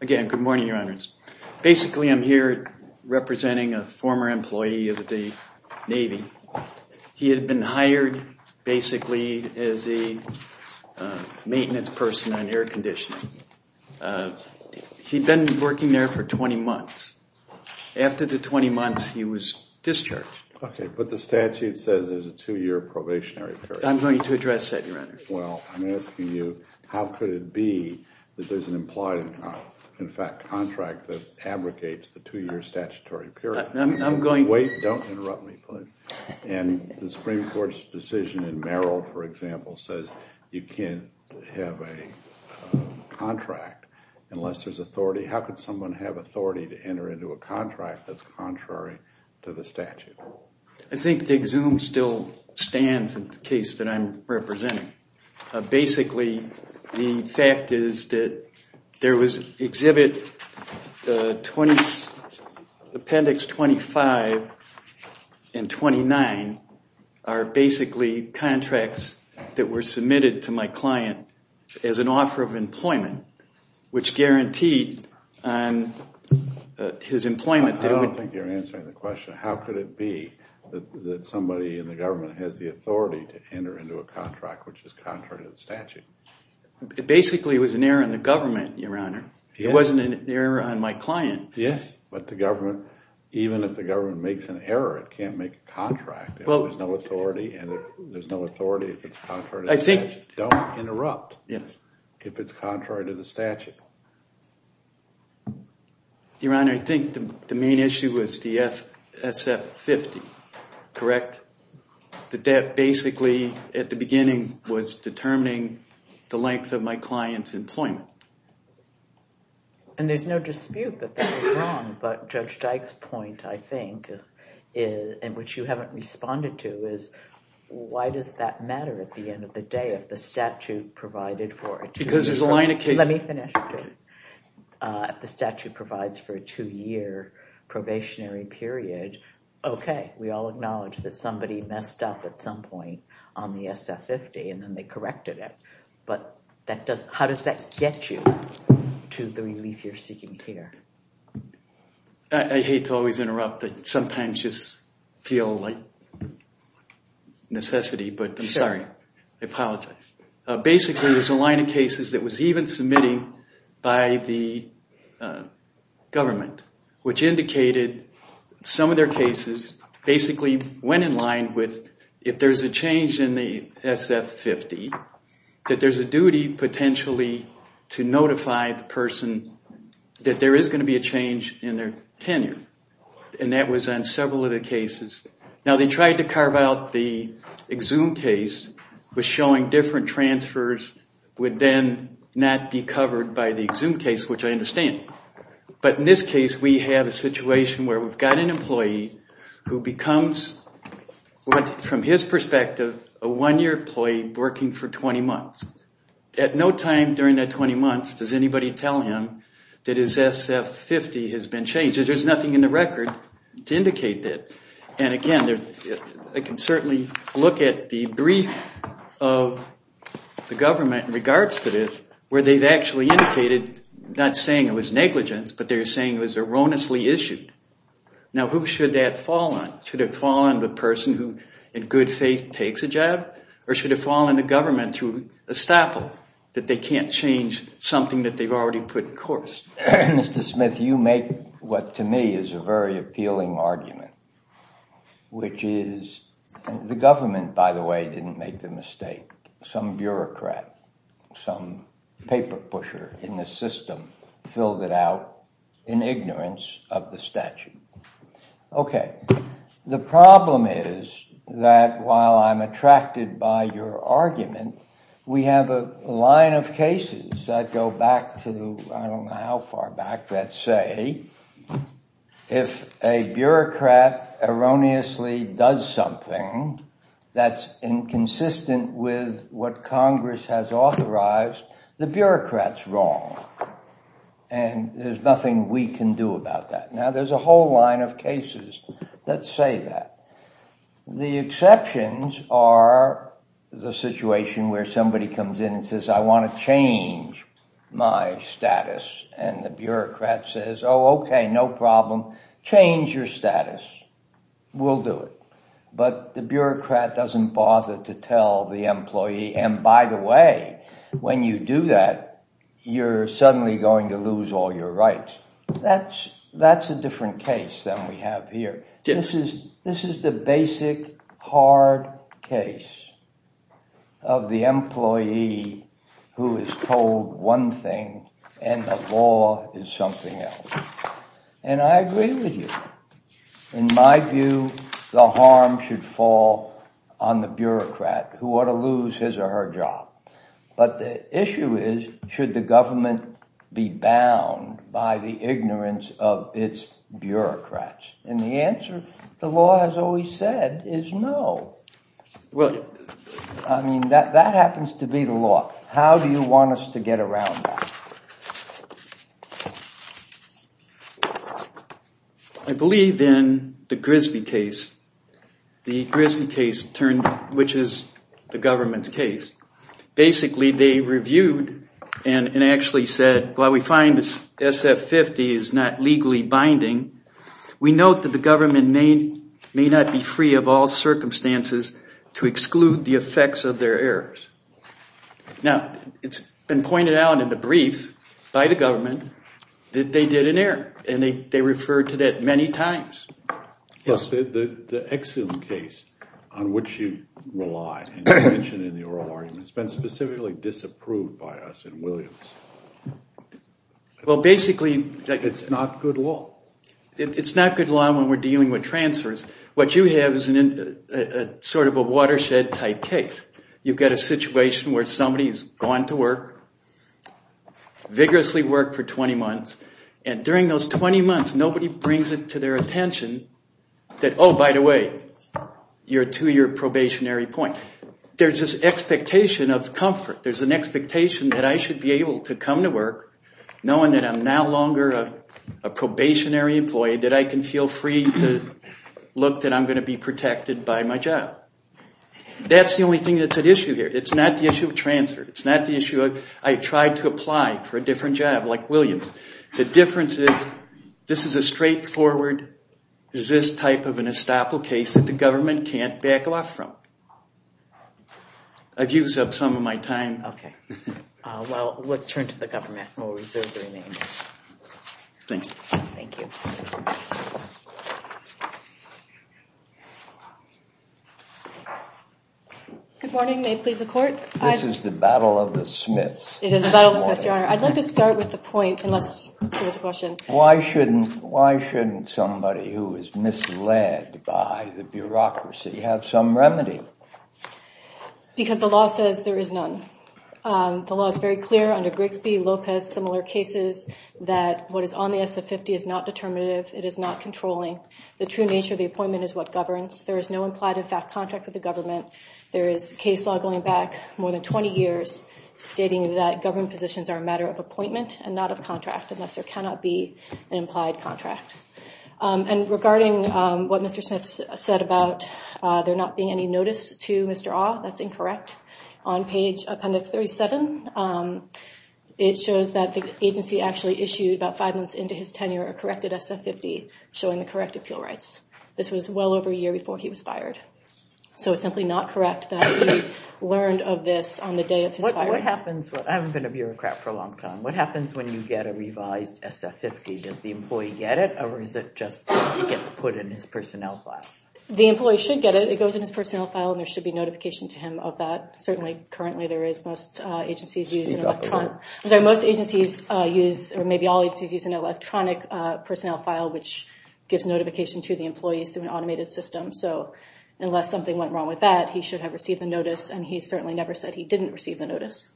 Again, good morning, Your Honors. Basically, I'm here representing a former employee of the Navy. He had been hired, basically, as a maintenance person on air conditioning. He'd been working there for 20 months. After the 20 months, he was discharged. Okay, but the statute says there's a two-year probationary period. I'm going to address that, Your Honors. Well, I'm asking you, how could it be that there's an employee contract that abrogates the two-year statutory period? I'm going to... Wait, don't interrupt me, please. And the Supreme Court's decision in Merrill, for example, says you can't have a contract unless there's authority. How could someone have authority to enter into a contract that's contrary to the statute? I think DigZoom still stands in the case that I'm representing. Basically, the fact is that there was an exhibit, Appendix 25 and 29 are basically contracts that were submitted to my client as an offer of employment, which guaranteed his employment. I don't think you're answering the question. How could it be that somebody in the government has the authority to enter into a contract which is contrary to the statute? Basically, it was an error in the government, Your Honor. It wasn't an error on my client. Yes, but the government, even if the government makes an error, it can't make a contract if there's no authority, and there's no authority if it's contrary to the statute. I think... Don't interrupt if it's contrary to the statute. Your Honor, I think the main issue was the SF-50, correct? That that basically, at the beginning, was determining the length of my client's employment. And there's no dispute that that's wrong, but Judge Dyke's point, I think, in which you haven't responded to, is why does that matter at the end of the day if the statute provided for it? Because there's a line of case... Let me finish. If the statute provides for a two-year probationary period, okay, we all acknowledge that somebody messed up at some point on the SF-50, and then they corrected it. But how does that get you to the relief you're seeking here? I hate to always interrupt. I sometimes just feel like necessity, but I'm sorry. I apologize. Basically, there's a line of cases that was even submitted by the government, which indicated some of their cases basically went in line with if there's a change in the SF-50, that there's a duty potentially to notify the person that there is going to be a change in their tenure, and that was on several of the cases. Now, they tried to carve out the Exum case was showing different transfers would then not be covered by the Exum case, which I understand. But in this case, we have a situation where we've got an employee who becomes, from his perspective, a one-year employee working for 20 months. At no time during that 20 months does anybody tell him that his SF-50 has been changed. There's nothing in the record to indicate that. And again, I can certainly look at the brief of the government in regards to this, where they've actually indicated not saying it was negligence, but they're saying it was erroneously issued. Now, who should that fall on? Should it fall on the person who, in good faith, takes a job? Or should it fall on the government to estoppel that they can't change something that they've already put in course? Mr. Smith, you make what to me is a very appealing argument, which is the government, by the way, didn't make the mistake. Some bureaucrat, some paper pusher in the system filled it out in ignorance of the statute. OK, the problem is that while I'm attracted by your argument, we have a line of cases that go back to, I don't know how far back, that say if a bureaucrat erroneously does something that's inconsistent with what Congress has authorized, the bureaucrat's wrong. And there's nothing we can do about that. Now, there's a whole line of cases that say that. The exceptions are the situation where somebody comes in and says, I want to change my status. And the bureaucrat says, oh, OK, no problem. Change your status. We'll do it. But the bureaucrat doesn't bother to tell the employee. And by the way, when you do that, you're suddenly going to lose all your rights. That's that's a different case than we have here. This is this is the basic hard case of the employee who is told one thing and the law is something else. And I agree with you. In my view, the harm should fall on the bureaucrat who ought to lose his or her job. But the issue is, should the government be bound by the ignorance of its bureaucrats? And the answer the law has always said is no. Well, I mean, that that happens to be the law. How do you want us to get around? I believe in the Grisby case, the Grisby case turned, which is the government's case. Basically, they reviewed and actually said, well, we find this SF-50 is not legally binding. We note that the government may not be free of all circumstances to exclude the effects of their errors. Now, it's been pointed out in the brief by the government that they did an error and they referred to that many times. The Exum case on which you rely in the oral argument has been specifically disapproved by us in Williams. Well, basically, it's not good law. It's not good law when we're dealing with transfers. What you have is a sort of a watershed type case. You've got a situation where somebody has gone to work, vigorously work for 20 months. And during those 20 months, nobody brings it to their attention that, oh, by the way, you're to your probationary point. There's this expectation of comfort. There's an expectation that I should be able to come to work knowing that I'm no longer a probationary employee, that I can feel free to look that I'm going to be protected by my job. That's the only thing that's at issue here. It's not the issue of transfer. It's not the issue of I tried to apply for a different job like Williams. The difference is this is a straightforward, is this type of an estoppel case that the government can't back off from. I've used up some of my time. Okay. Well, let's turn to the government. We'll reserve the remainder. Thank you. Thank you. Good morning. May it please the court. This is the battle of the smiths. I'd like to start with the point, unless there's a question. Why shouldn't somebody who is misled by the bureaucracy have some remedy? Because the law says there is none. The law is very clear under Grigsby, Lopez, similar cases, that what is on the SF-50 is not determinative. It is not controlling. The true nature of the appointment is what governs. There is no implied in fact contract with the government. There is case law going back more than 20 years stating that government positions are a matter of appointment and not of contract, unless there cannot be an implied contract. And regarding what Mr. Smith said about there not being any notice to Mr. Awe, that's incorrect. On page appendix 37, it shows that the agency actually issued about five months into his tenure a corrected SF-50, showing the correct appeal rights. This was well over a year before he was fired. So it's simply not correct that he learned of this on the day of his firing. What happens when you get a revised SF-50? Does the employee get it, or is it just it gets put in his personnel file? The employee should get it. It goes in his personnel file, and there should be notification to him of that. Certainly, currently there is. Most agencies use an electronic personnel file, which gives notification to the employees through an automated system. So unless something went wrong with that, he should have received the notice, and he certainly never said he didn't receive the notice.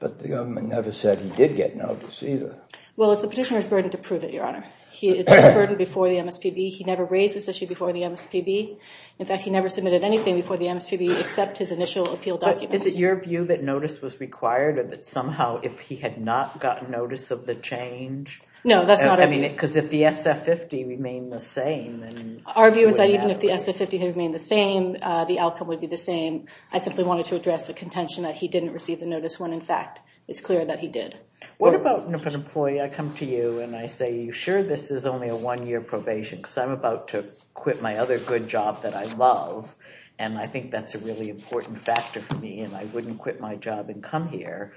But the government never said he did get notice either. Well, it's the petitioner's burden to prove it, Your Honor. It's his burden before the MSPB. He never raised this issue before the MSPB. In fact, he never submitted anything before the MSPB except his initial appeal documents. Is it your view that notice was required or that somehow if he had not gotten notice of the change? No, that's not our view. Because if the SF-50 remained the same, then what would happen? Our view is that even if the SF-50 had remained the same, the outcome would be the same. I simply wanted to address the contention that he didn't receive the notice when, in fact, it's clear that he did. What about if an employee, I come to you and I say, are you sure this is only a one-year probation because I'm about to quit my other good job that I love, and I think that's a really important factor for me, and I wouldn't quit my job and come here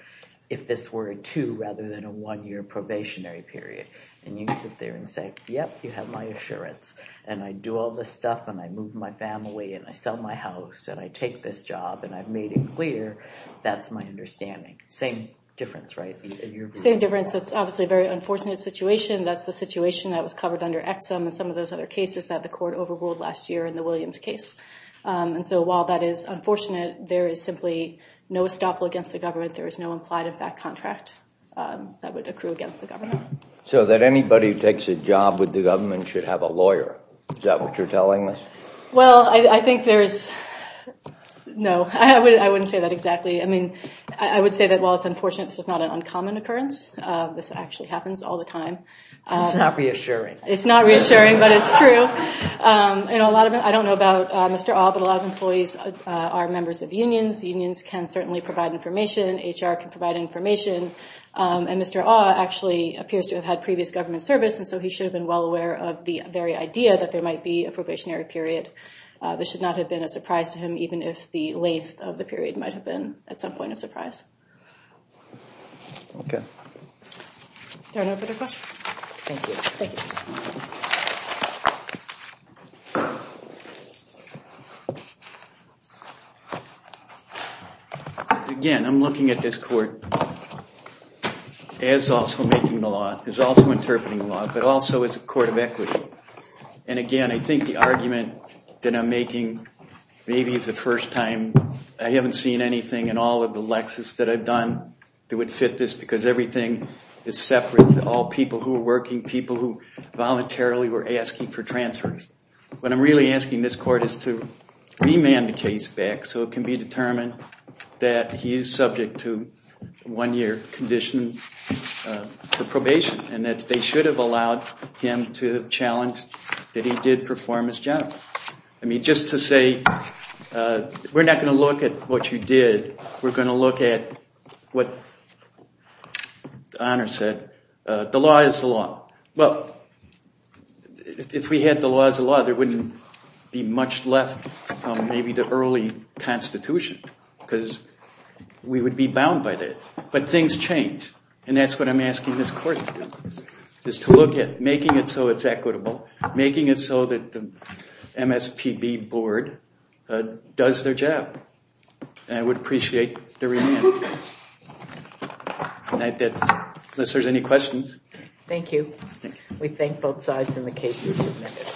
if this were a two- rather than a one-year probationary period? And you sit there and say, yep, you have my assurance, and I do all this stuff, and I move my family, and I sell my house, and I take this job, and I've made it clear, that's my understanding. Same difference, right? Same difference. It's obviously a very unfortunate situation. That's the situation that was covered under EXIM and some of those other cases that the court overruled last year in the Williams case. But there is no implied effect contract that would accrue against the government. So that anybody who takes a job with the government should have a lawyer. Is that what you're telling us? Well, I think there's – no, I wouldn't say that exactly. I mean, I would say that while it's unfortunate, this is not an uncommon occurrence. This actually happens all the time. It's not reassuring. It's not reassuring, but it's true. I don't know about Mr. Au, but a lot of employees are members of unions. Unions can certainly provide information. HR can provide information. And Mr. Au actually appears to have had previous government service, and so he should have been well aware of the very idea that there might be a probationary period. This should not have been a surprise to him, even if the length of the period might have been at some point a surprise. Okay. If there are no further questions. Thank you. Thank you. Again, I'm looking at this court as also making the law, as also interpreting the law, but also as a court of equity. And, again, I think the argument that I'm making, maybe it's the first time I haven't seen anything in all of the lexes that I've done that would fit this because everything is separate. All people who are working, people who voluntarily were asking for transfers. What I'm really asking this court is to remand the case back so it can be determined that he is subject to one year condition for probation, and that they should have allowed him to challenge that he did perform as general. I mean, just to say, we're not going to look at what you did. We're going to look at what Honor said. The law is the law. Well, if we had the law as the law, there wouldn't be much left from maybe the early Constitution because we would be bound by that. But things change. And that's what I'm asking this court to do, is to look at making it so it's equitable, making it so that the MSPB board does their job. And I would appreciate the remand. Unless there's any questions. Thank you. We thank both sides and the case is submitted.